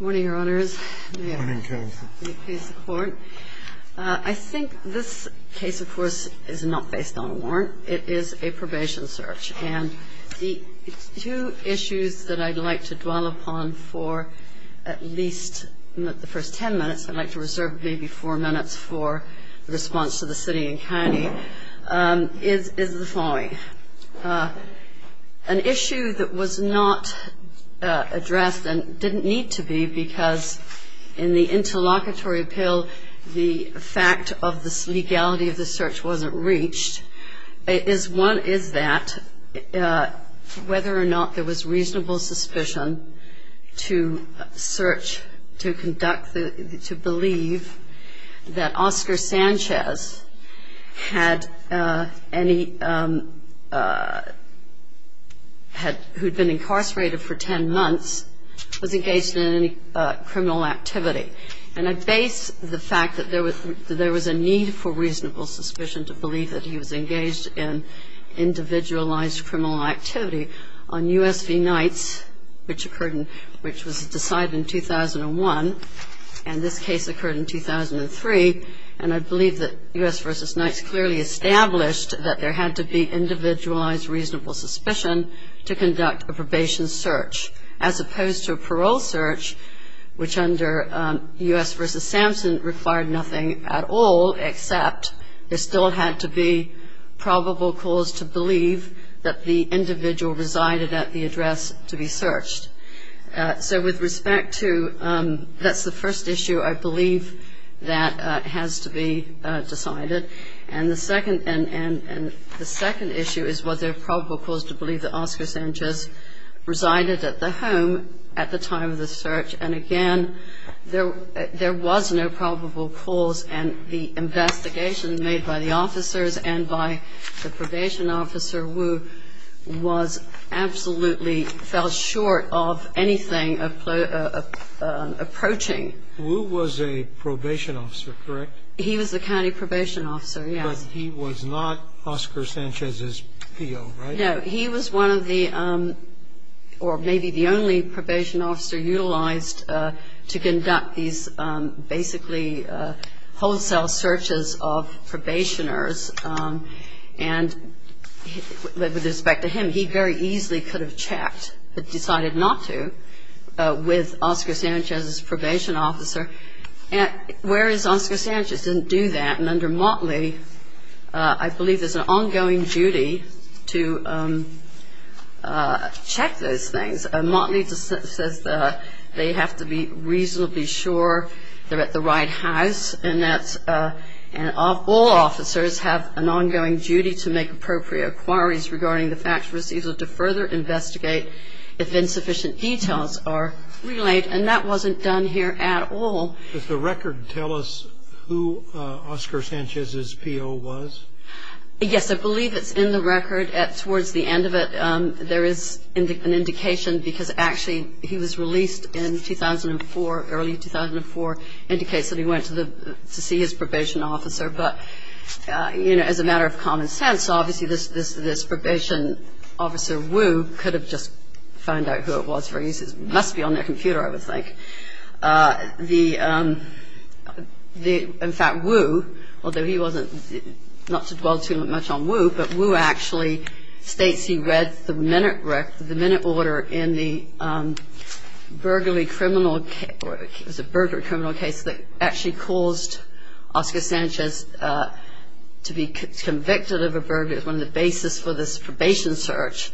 Morning, Your Honors. I think this case, of course, is not based on a warrant. It is a probation search, and the two issues that I'd like to dwell upon for at least the first ten minutes, I'd like to reserve maybe four minutes for the response to the city and county, is the following. An issue that was not addressed, and didn't need to be, because in the interlocutory appeal, the fact of this legality of the search wasn't reached, is one is that whether or not there was reasonable suspicion to search, to conduct, to believe that Oscar Sanchez had any, who'd been incarcerated for ten months, was engaged in any criminal activity. And I base the fact that there was a need for reasonable suspicion to believe that he was engaged in individualized criminal activity on U.S. v. Knight's, which was decided in 2001. And this case occurred in 2003, and I believe that U.S. v. Knight's clearly established that there had to be individualized reasonable suspicion to conduct a probation search, as opposed to a parole search, which under U.S. v. Samson required nothing at all, except there still had to be probable cause to believe that the individual resided at the address to be searched. So with respect to, that's the first issue I believe that has to be decided. And the second issue is was there probable cause to believe that Oscar Sanchez resided at the home at the time of the search. And again, there was no probable cause, and the investigation made by the officers and by the probation officer, Wu, was absolutely, fell short of anything approaching. Wu was a probation officer, correct? He was the county probation officer, yes. But he was not Oscar Sanchez's PO, right? No, he was one of the, or maybe the only probation officer utilized to conduct these basically wholesale searches of probationers. And with respect to him, he very easily could have checked, but decided not to, with Oscar Sanchez's probation officer, whereas Oscar Sanchez didn't do that. And under Motley, I believe there's an ongoing duty to check those things. Motley says they have to be reasonably sure they're at the right house, and that all officers have an ongoing duty to make appropriate inquiries regarding the fact receivable to further investigate if insufficient details are relayed. And that wasn't done here at all. Does the record tell us who Oscar Sanchez's PO was? Yes, I believe it's in the record. Towards the end of it, there is an indication, because actually he was released in 2004, early 2004, indicates that he went to see his probation officer. But, you know, as a matter of common sense, obviously this probation officer, Wu, could have just found out who it was. It must be on their computer, I would think. In fact, Wu, although he wasn't, not to dwell too much on Wu, but Wu actually states he read the minute order in the burglary criminal case, that actually caused Oscar Sanchez to be convicted of a burglary. And the basis for this probation search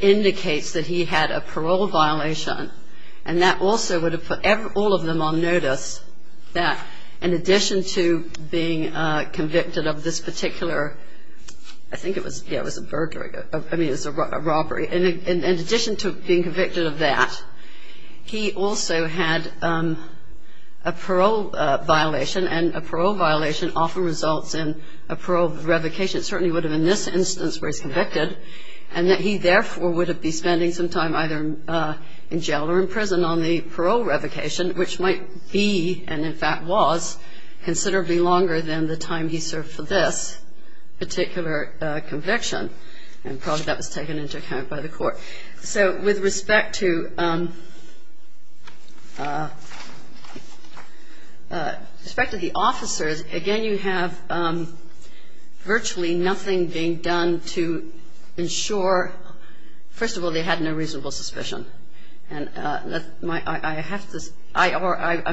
indicates that he had a parole violation, and that also would have put all of them on notice that in addition to being convicted of this particular, I think it was a burglary, I mean it was a robbery, in addition to being convicted of that, he also had a parole violation, and a parole violation often results in a parole revocation. It certainly would have been this instance where he's convicted, and that he therefore would have been spending some time either in jail or in prison on the parole revocation, which might be, and in fact was, considerably longer than the time he served for this particular conviction. And probably that was taken into account by the court. So with respect to the officers, again you have virtually nothing being done to ensure, first of all they had no reasonable suspicion. I'm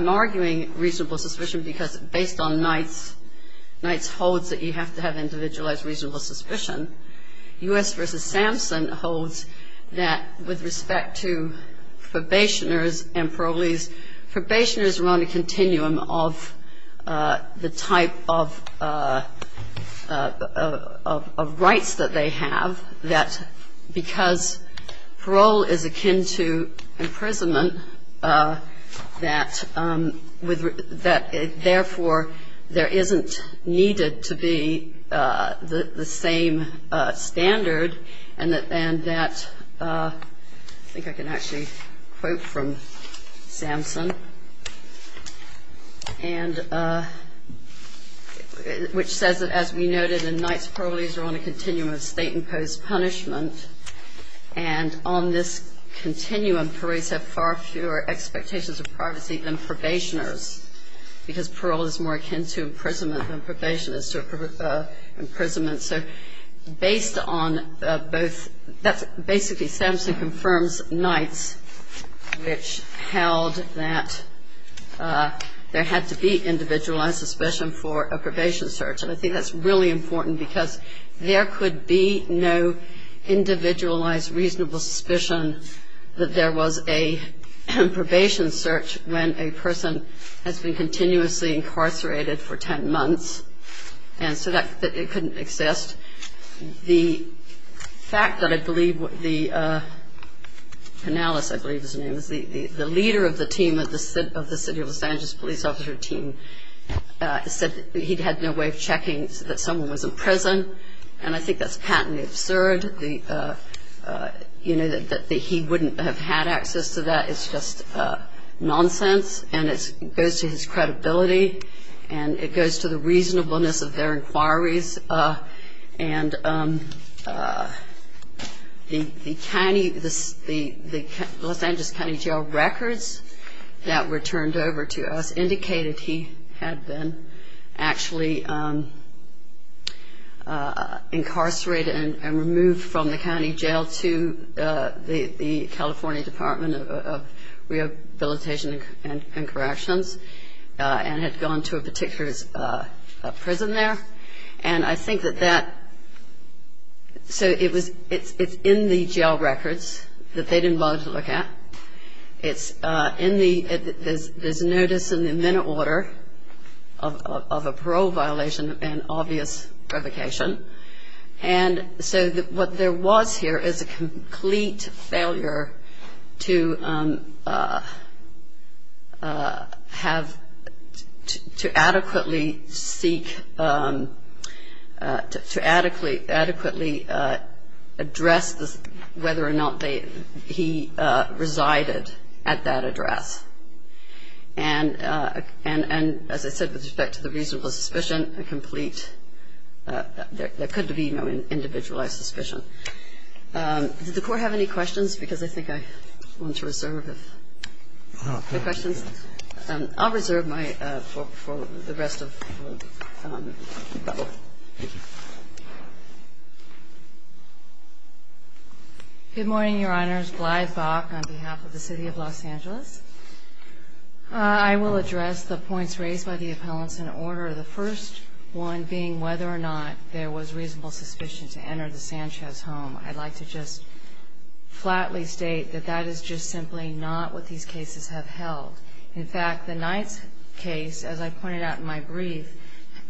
arguing reasonable suspicion because based on Knight's holds that you have to have individualized reasonable suspicion. U.S. v. Samson holds that with respect to probationers and parolees, probationers run a continuum of the type of rights that they have, that because parole is akin to imprisonment, that therefore there isn't needed to be the same standard, and that, I think I can actually quote from Samson, which says that as we noted in Knight's parolees are on a continuum of state imposed punishment, and on this continuum parolees have far fewer expectations of privacy than probationers, because parole is more akin to imprisonment than probation is to imprisonment. So based on both, basically Samson confirms Knight's, which held that there had to be individualized suspicion for a probation search. And I think that's really important because there could be no individualized reasonable suspicion that there was a probation search when a person has been continuously incarcerated for 10 months, and so that it couldn't exist. The fact that I believe the, Penales I believe his name is, the leader of the team of the city of Los Angeles police officer team said that he'd had no way of checking that someone was in prison, and I think that's patently absurd that he wouldn't have had access to that. It's just nonsense, and it goes to his credibility, and it goes to the reasonableness of their inquiries. And the Los Angeles County Jail records that were turned over to us indicated he had been actually incarcerated and removed from the county jail to the California Department of Rehabilitation and Corrections, and had gone to a particular prison there. And I think that that, so it was, it's in the jail records that they didn't bother to look at. It's in the, there's a notice in the amendment order of a parole violation and obvious revocation. And so what there was here is a complete failure to have, to adequately seek, to adequately address whether or not he resided at that address. And as I said, with respect to the reasonable suspicion, a complete, there couldn't be no individualized suspicion. Did the court have any questions? Because I think I want to reserve the questions. I'll reserve my, for the rest of the panel. Thank you. Good morning, Your Honors. Glyde Bach on behalf of the City of Los Angeles. I will address the points raised by the appellants in order. The first one being whether or not there was reasonable suspicion to enter the Sanchez home. I'd like to just flatly state that that is just simply not what these cases have held. In fact, the Knight's case, as I pointed out in my brief,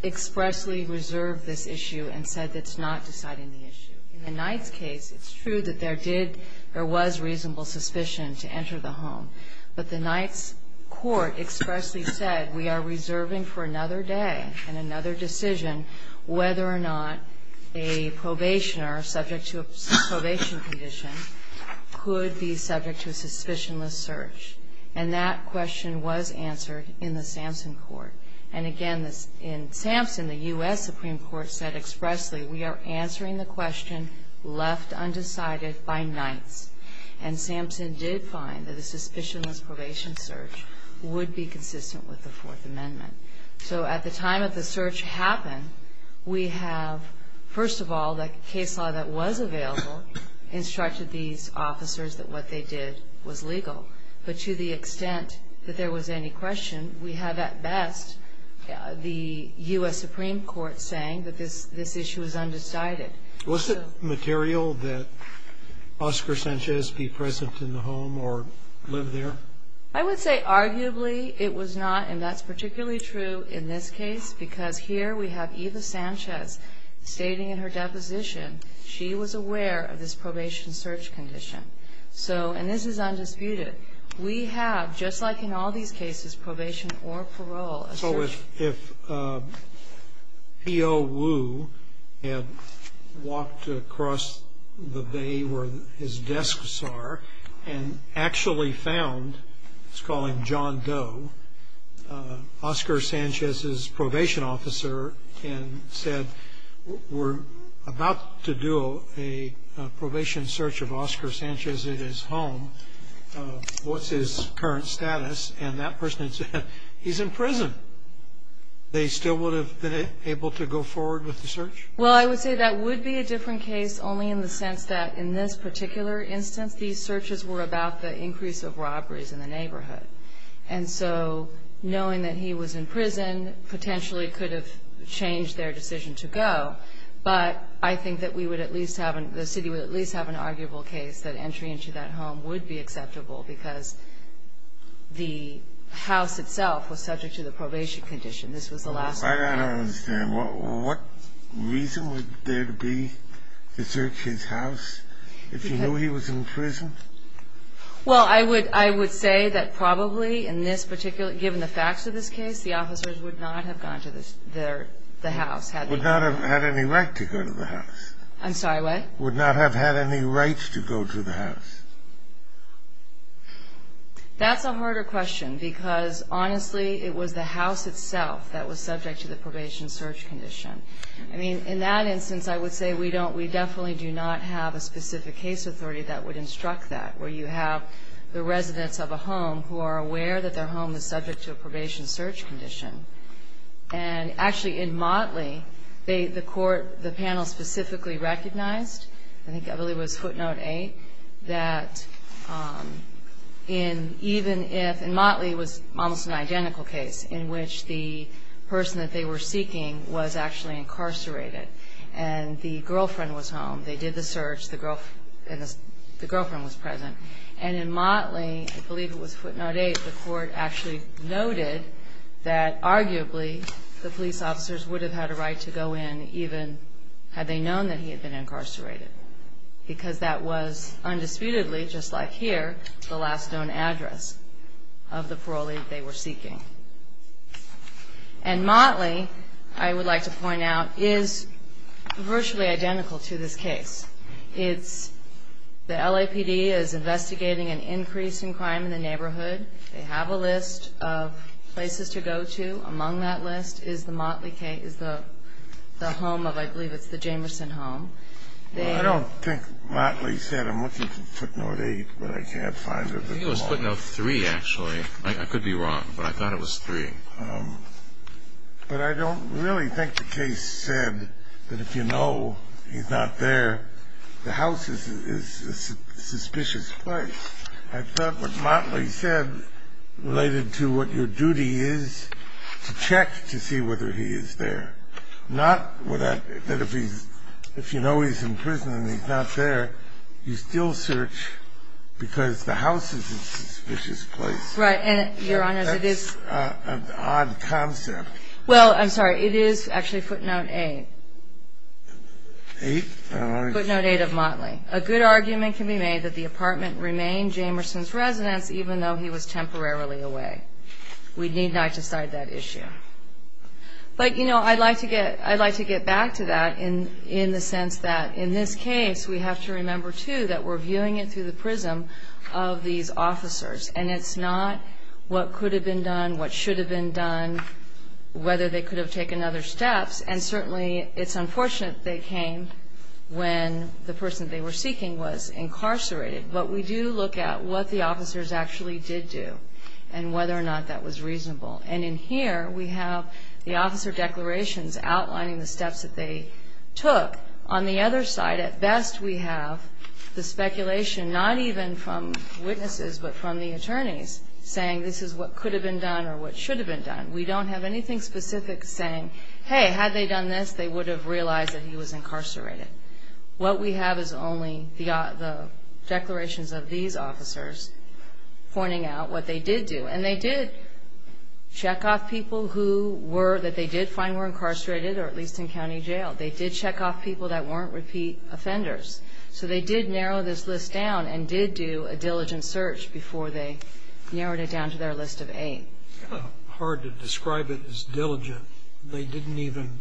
expressly reserved this issue and said it's not deciding the issue. In the Knight's case, it's true that there did, there was reasonable suspicion to enter the home. But the Knight's court expressly said we are reserving for another day and another decision whether or not a probationer subject to a probation condition could be subject to a suspicionless search. And that question was answered in the Sampson court. And again, in Sampson, the U.S. Supreme Court said expressly, we are answering the question left undecided by Knight's. And Sampson did find that a suspicionless probation search would be consistent with the Fourth Amendment. So at the time that the search happened, we have, first of all, the case law that was available instructed these officers that what they did was legal. But to the extent that there was any question, we have at best the U.S. Supreme Court saying that this issue is undecided. Was it material that Oscar Sanchez be present in the home or live there? I would say arguably it was not, and that's particularly true in this case because here we have Eva Sanchez stating in her deposition she was aware of this probation search condition. So, and this is undisputed. We have, just like in all these cases, probation or parole. So if P.O. Wu had walked across the bay where his desks are and actually found, let's call him John Doe, Oscar Sanchez's probation officer and said, we're about to do a probation search of Oscar Sanchez at his home. What's his current status? And that person had said, he's in prison. They still would have been able to go forward with the search? Well, I would say that would be a different case only in the sense that in this particular instance, these searches were about the increase of robberies in the neighborhood. And so knowing that he was in prison potentially could have changed their decision to go, but I think that we would at least have, the city would at least have an arguable case that entry into that home would be acceptable because the house itself was subject to the probation condition. This was the last one. I don't understand. What reason would there be to search his house if you knew he was in prison? Well, I would say that probably in this particular, given the facts of this case, the officers would not have gone to the house. Would not have had any right to go to the house. I'm sorry, what? Would not have had any right to go to the house. That's a harder question because honestly, it was the house itself that was subject to the probation search condition. I mean, in that instance, I would say we definitely do not have a specific case authority that would instruct that where you have the residents of a home who are aware that their home is subject to a probation search condition. And actually in Motley, the panel specifically recognized, I think it really was footnote 8, that even if, in Motley it was almost an identical case in which the person that they were seeking was actually incarcerated and the girlfriend was home, they did the search, and the girlfriend was present. And in Motley, I believe it was footnote 8, the court actually noted that arguably the police officers would have had a right to go in even had they known that he had been incarcerated because that was undisputedly, just like here, And Motley, I would like to point out, is virtually identical to this case. It's the LAPD is investigating an increase in crime in the neighborhood. They have a list of places to go to. Among that list is the Motley case, the home of, I believe it's the Jamerson home. I don't think Motley said, I'm looking for footnote 8, but I can't find it at all. I think it was footnote 3, actually. I could be wrong, but I thought it was 3. But I don't really think the case said that if you know he's not there, the house is a suspicious place. I thought what Motley said related to what your duty is to check to see whether he is there, not that if you know he's in prison and he's not there, you still search because the house is a suspicious place. That's an odd concept. Well, I'm sorry, it is actually footnote 8. Footnote 8 of Motley. A good argument can be made that the apartment remained Jamerson's residence even though he was temporarily away. We need not decide that issue. But, you know, I'd like to get back to that in the sense that in this case, we have to remember, too, that we're viewing it through the prism of these officers. And it's not what could have been done, what should have been done, whether they could have taken other steps. And certainly it's unfortunate they came when the person they were seeking was incarcerated. But we do look at what the officers actually did do and whether or not that was reasonable. And in here we have the officer declarations outlining the steps that they took. On the other side, at best, we have the speculation not even from witnesses but from the attorneys saying this is what could have been done or what should have been done. We don't have anything specific saying, hey, had they done this, they would have realized that he was incarcerated. What we have is only the declarations of these officers pointing out what they did do. And they did check off people who were that they did find were incarcerated or at least in county jail. They did check off people that weren't repeat offenders. So they did narrow this list down and did do a diligent search before they narrowed it down to their list of eight. Scalia. Hard to describe it as diligent. They didn't even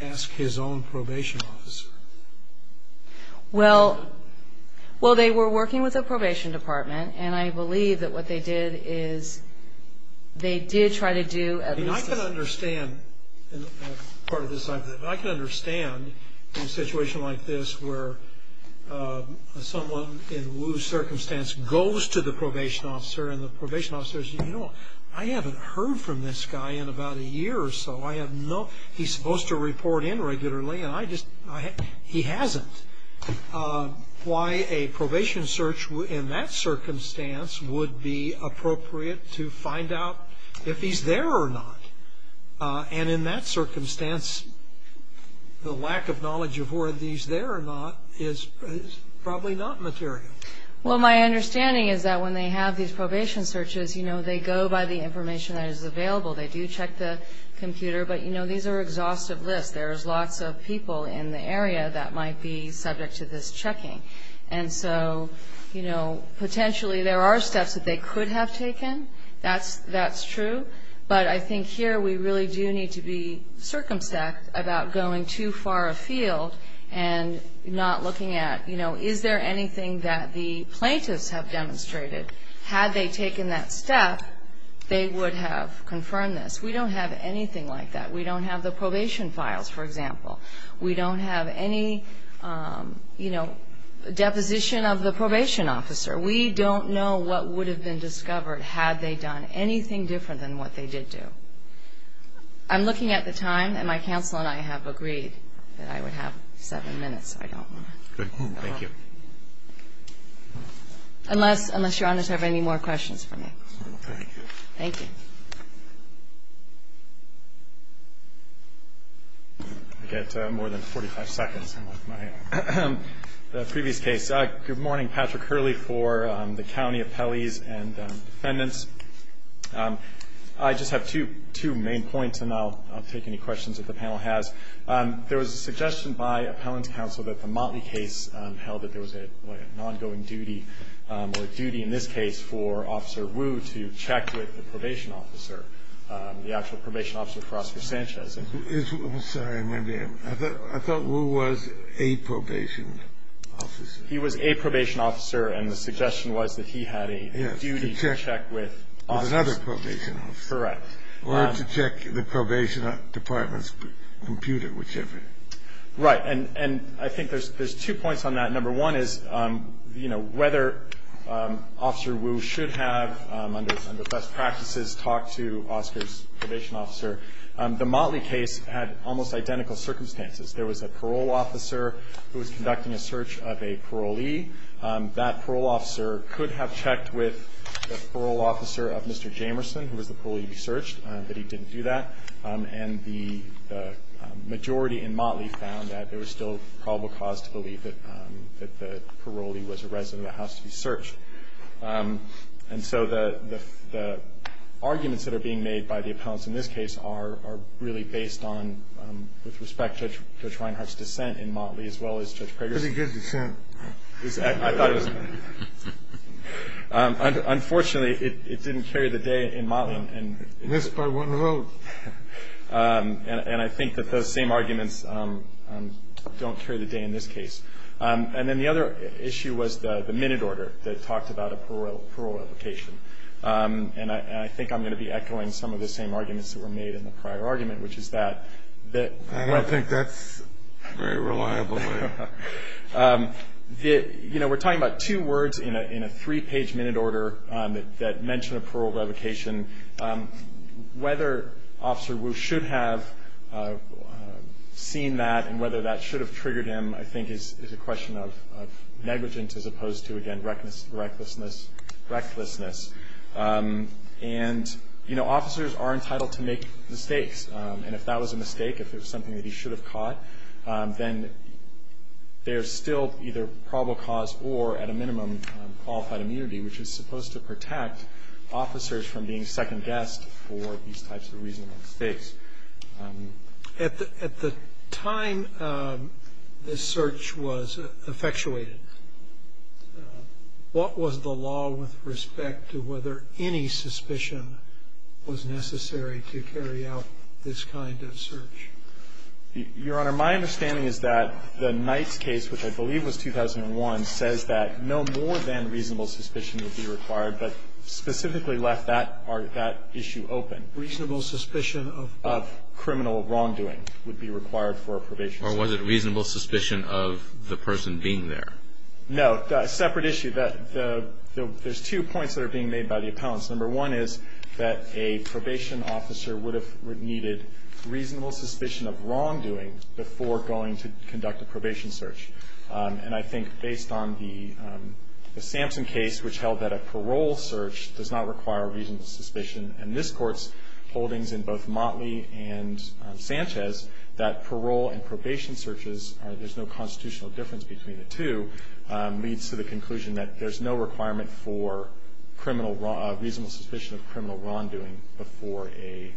ask his own probation office. Well, they were working with the probation department. And I believe that what they did is they did try to do at least a I can understand part of this. I can understand in a situation like this where someone in Wu's circumstance goes to the probation officer and the probation officer says, you know, I haven't heard from this guy in about a year or so. I have no he's supposed to report in regularly and I just he hasn't. Why a probation search in that circumstance would be appropriate to find out if he's there or not. And in that circumstance, the lack of knowledge of where he's there or not is probably not material. Well, my understanding is that when they have these probation searches, you know, they go by the information that is available. They do check the computer. But, you know, these are exhaustive lists. There's lots of people in the area that might be subject to this checking. And so, you know, potentially there are steps that they could have taken. That's true. But I think here we really do need to be circumspect about going too far afield and not looking at, you know, is there anything that the plaintiffs have demonstrated. Had they taken that step, they would have confirmed this. We don't have anything like that. We don't have the probation files, for example. We don't have any, you know, deposition of the probation officer. We don't know what would have been discovered had they done anything different than what they did do. I'm looking at the time, and my counsel and I have agreed that I would have seven minutes. I don't know. Thank you. Unless, Your Honor, you have any more questions for me. Thank you. Thank you. I get more than 45 seconds on my previous case. Good morning. Patrick Hurley for the County Appellees and Defendants. I just have two main points, and I'll take any questions that the panel has. There was a suggestion by Appellant Counsel that the Motley case held that there was an ongoing duty or a duty in this case for Officer Wu to check with the probation officer, the actual probation officer for Oscar Sanchez. I'm sorry. I thought Wu was a probation officer. He was a probation officer, and the suggestion was that he had a duty to check with Oscar. Correct. Or to check the probation department's computer, whichever. Right. And I think there's two points on that. Number one is, you know, whether Officer Wu should have, under best practices, talked to Oscar's probation officer. The Motley case had almost identical circumstances. There was a parole officer who was conducting a search of a parolee. That parole officer could have checked with the parole officer of Mr. Jamerson, who was the parolee to be searched, but he didn't do that. And the majority in Motley found that there was still probable cause to believe that the parolee was a resident of the house to be searched. And so the arguments that are being made by the appellants in this case are really based on, with respect to Judge Reinhart's dissent in Motley as well as Judge Prager's. Pretty good dissent. I thought it was. Unfortunately, it didn't carry the day in Motley. Missed by one vote. And I think that those same arguments don't carry the day in this case. And then the other issue was the minute order that talked about a parole revocation. And I think I'm going to be echoing some of the same arguments that were made in the prior argument, which is that the- I don't think that's very reliable. You know, we're talking about two words in a three-page minute order that mention a parole revocation. Whether Officer Wu should have seen that and whether that should have triggered him, I think, is a question of negligence as opposed to, again, recklessness. And, you know, officers are entitled to make mistakes. And if that was a mistake, if it was something that he should have caught, then there's still either probable cause or, at a minimum, qualified immunity, which is supposed to protect officers from being second-guessed for these types of reasonable mistakes. At the time this search was effectuated, what was the law with respect to whether any suspicion was necessary to carry out this kind of search? Your Honor, my understanding is that the Knight's case, which I believe was 2001, says that no more than reasonable suspicion would be required, but specifically left that issue open. Reasonable suspicion of? Of criminal wrongdoing would be required for a probation. Or was it reasonable suspicion of the person being there? No. Separate issue. There's two points that are being made by the appellants. Number one is that a probation officer would have needed reasonable suspicion of wrongdoing before going to conduct a probation search. And I think, based on the Sampson case, which held that a parole search does not require reasonable suspicion, and this Court's holdings in both Motley and Sanchez, that parole and probation searches, there's no constitutional difference between the two, leads to the conclusion that there's no requirement for reasonable suspicion of criminal wrongdoing before a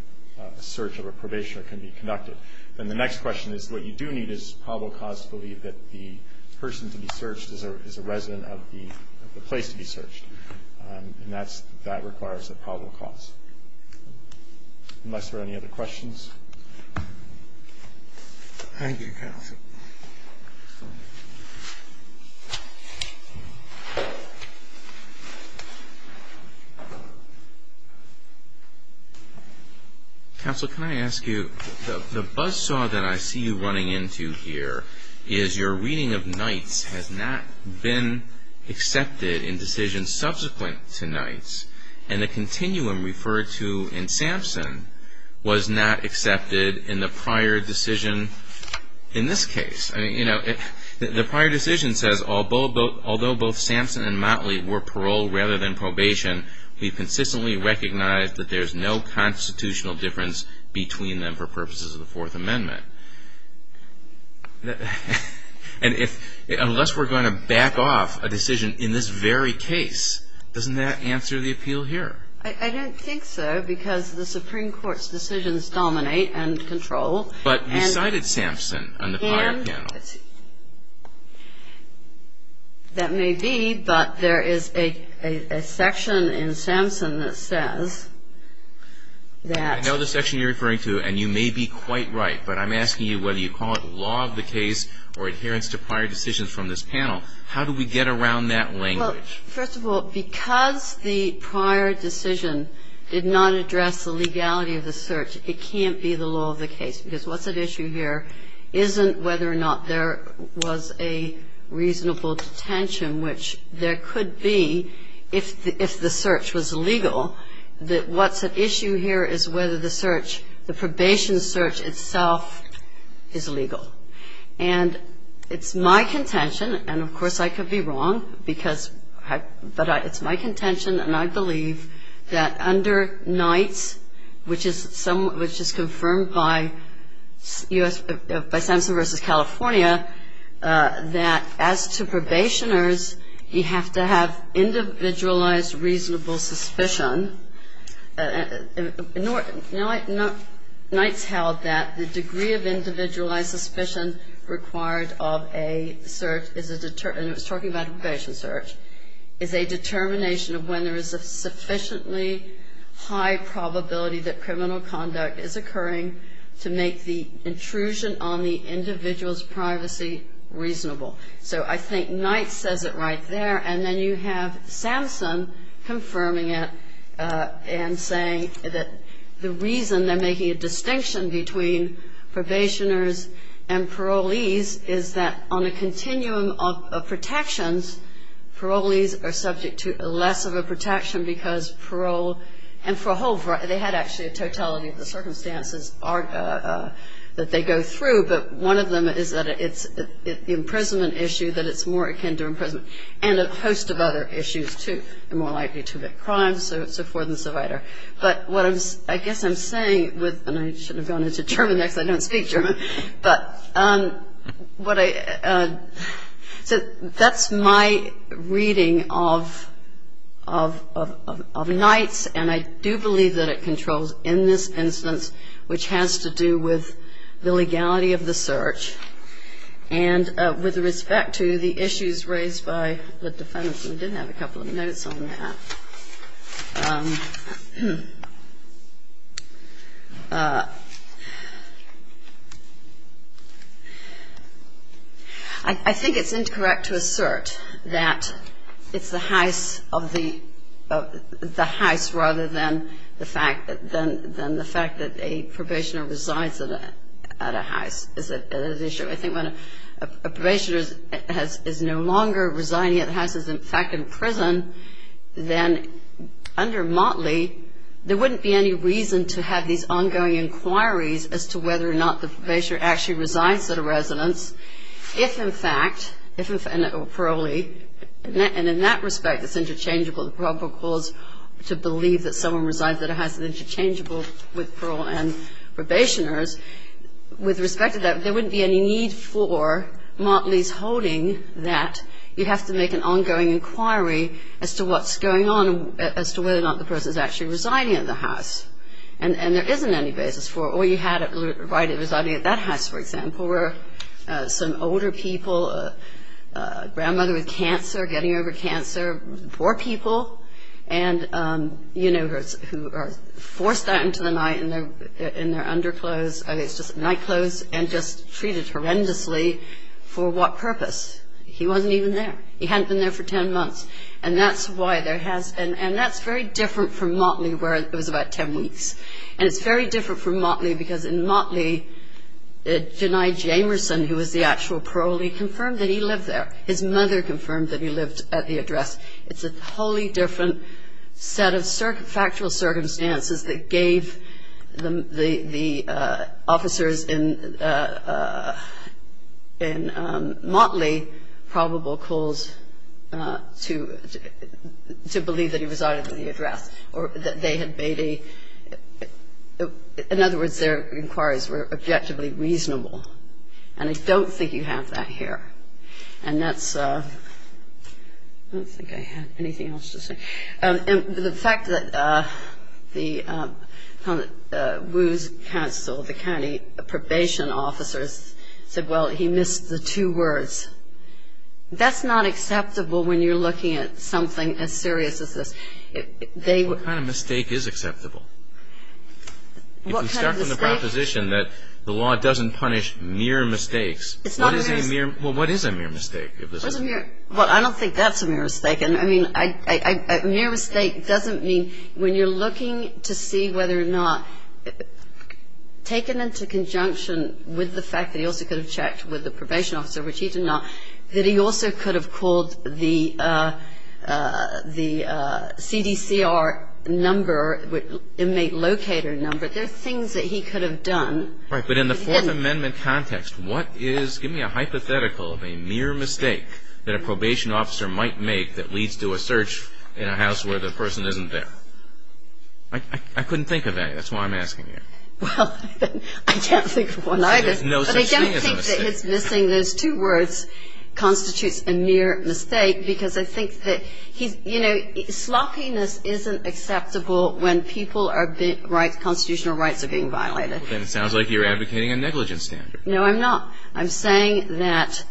search of a probationer can be conducted. And the next question is what you do need is probable cause to believe that the person to be searched is a resident of the place to be searched. And that requires a probable cause. Unless there are any other questions. Thank you, counsel. Counsel, can I ask you, the buzzsaw that I see you running into here is your reading of Knights has not been accepted in decisions subsequent to Knights. And the continuum referred to in Sampson was not accepted in the prior decision in this case. The prior decision says, although both Sampson and Motley were paroled rather than probation, we consistently recognize that there's no constitutional difference between them for purposes of the Fourth Amendment. And if, unless we're going to back off a decision in this very case, doesn't that answer the appeal here? I don't think so, because the Supreme Court's decisions dominate and control. But you cited Sampson on the prior panel. And that may be, but there is a section in Sampson that says that. I know the section you're referring to, and you may be quite right, but I'm asking you whether you call it law of the case or adherence to prior decisions from this panel. How do we get around that language? Well, first of all, because the prior decision did not address the legality of the search, it can't be the law of the case. Because what's at issue here isn't whether or not there was a reasonable detention, which there could be if the search was legal. What's at issue here is whether the search, the probation search itself, is legal. And it's my contention, and of course I could be wrong, but it's my contention and I believe that under Knight's, which is confirmed by Sampson v. California, that as to probationers, you have to have individualized reasonable suspicion. Knight's held that the degree of individualized suspicion required of a search is a, and it was talking about a probation search, is a determination of when there is a sufficiently high probability that criminal conduct is occurring to make the intrusion on the individual's privacy reasonable. So I think Knight says it right there, and then you have Sampson confirming it and saying that the reason they're making a distinction between probationers and parolees is that on a continuum of protections, parolees are subject to less of a protection because parole, they had actually a totality of the circumstances that they go through, but one of them is that it's the imprisonment issue that it's more akin to imprisonment and a host of other issues, too. They're more likely to commit crimes, so forth and so on. But what I guess I'm saying with, and I should have gone into German, actually I don't speak German, but what I, so that's my reading of Knight's, and I do believe that it controls in this instance which has to do with the legality of the search and with respect to the issues raised by the defendants, and we did have a couple of notes on that. I think it's incorrect to assert that it's the house rather than the fact that a probationer resides at a house is an issue. I think when a probationer is no longer residing at the house, is in fact in prison, then under Motley there wouldn't be any reason to have these ongoing inquiries as to whether or not the probationer actually resides at a residence if, in fact, and in that respect it's interchangeable. The problem was to believe that someone resides at a house that's interchangeable with parole and probationers. With respect to that, there wouldn't be any need for Motley's holding that you have to make an ongoing inquiry as to what's going on, as to whether or not the person's actually residing at the house. And there isn't any basis for it. All you had at the right of residing at that house, for example, were some older people, a grandmother with cancer, getting over cancer, poor people who are forced out into the night in their underclothes, I think it's just nightclothes, and just treated horrendously. For what purpose? He wasn't even there. He hadn't been there for ten months. And that's why there has been, and that's very different from Motley where it was about ten weeks. And it's very different from Motley because in Motley, Jani Jamerson, who was the actual parolee, confirmed that he lived there. His mother confirmed that he lived at the address. It's a wholly different set of factual circumstances that gave the officers in Motley probable cause to believe that he resided at the address, or that they had made a – in other words, their inquiries were objectively reasonable. And I don't think you have that here. And that's – I don't think I had anything else to say. And the fact that the Woos Council, the county probation officers, said, well, he missed the two words. That's not acceptable when you're looking at something as serious as this. What kind of mistake is acceptable? What kind of mistake? If we start from the proposition that the law doesn't punish mere mistakes. It's not a mere – Well, what is a mere mistake? Well, I don't think that's a mere mistake. I mean, a mere mistake doesn't mean when you're looking to see whether or not – taken into conjunction with the fact that he also could have checked with the probation officer, which he did not, that he also could have called the CDCR number, inmate locator number. There are things that he could have done. Right. But in the Fourth Amendment context, what is – give me a hypothetical of a mere mistake that a probation officer might make that leads to a search in a house where the person isn't there. I couldn't think of any. That's why I'm asking you. Well, I can't think of one either. But I don't think that his missing those two words constitutes a mere mistake because I think that he's – you know, sloppiness isn't acceptable when people are – constitutional rights are being violated. Then it sounds like you're advocating a negligence standard. No, I'm not. I'm saying that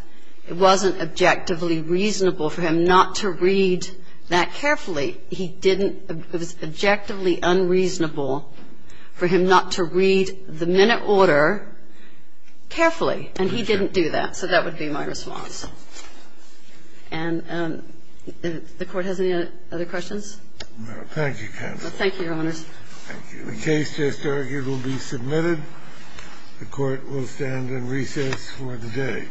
it wasn't objectively reasonable for him not to read that carefully. He didn't – it was objectively unreasonable for him not to read the minute order carefully, and he didn't do that. So that would be my response. And the Court has any other questions? No. Thank you, counsel. Thank you, Your Honors. Thank you. The case just argued will be submitted. The Court will stand in recess for the day.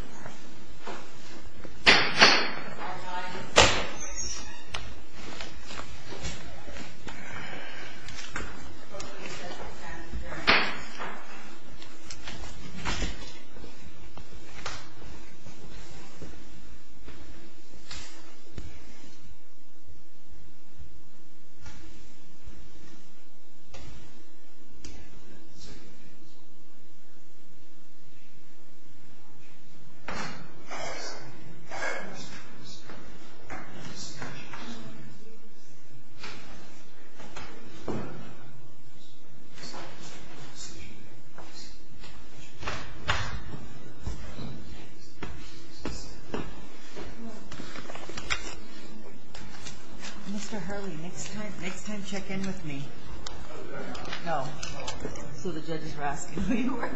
Mr. Hurley, next time check in with me. No. So the judges were asking who you were. Thank you. Thank you. Good-bye. Good-bye. Good-bye. Thank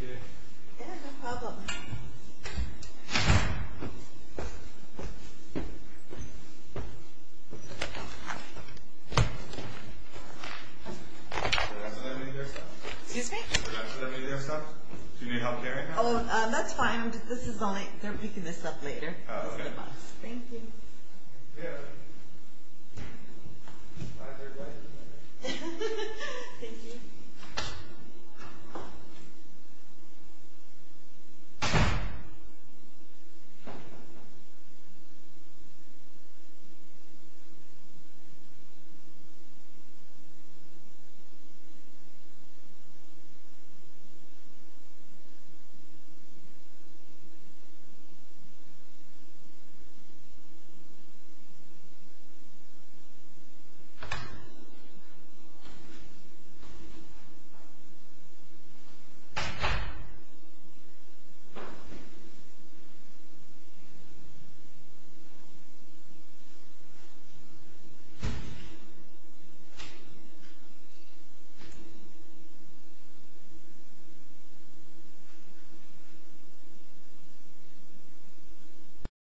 you. Yeah, no problem. Can I put any of your stuff? Excuse me? Can I put any of your stuff? Do you need help here right now? Oh, that's fine. This is only... They're picking this up later. Oh, okay. This is the box. Thank you. Yeah. My third wife. Thank you. Thank you. Thank you.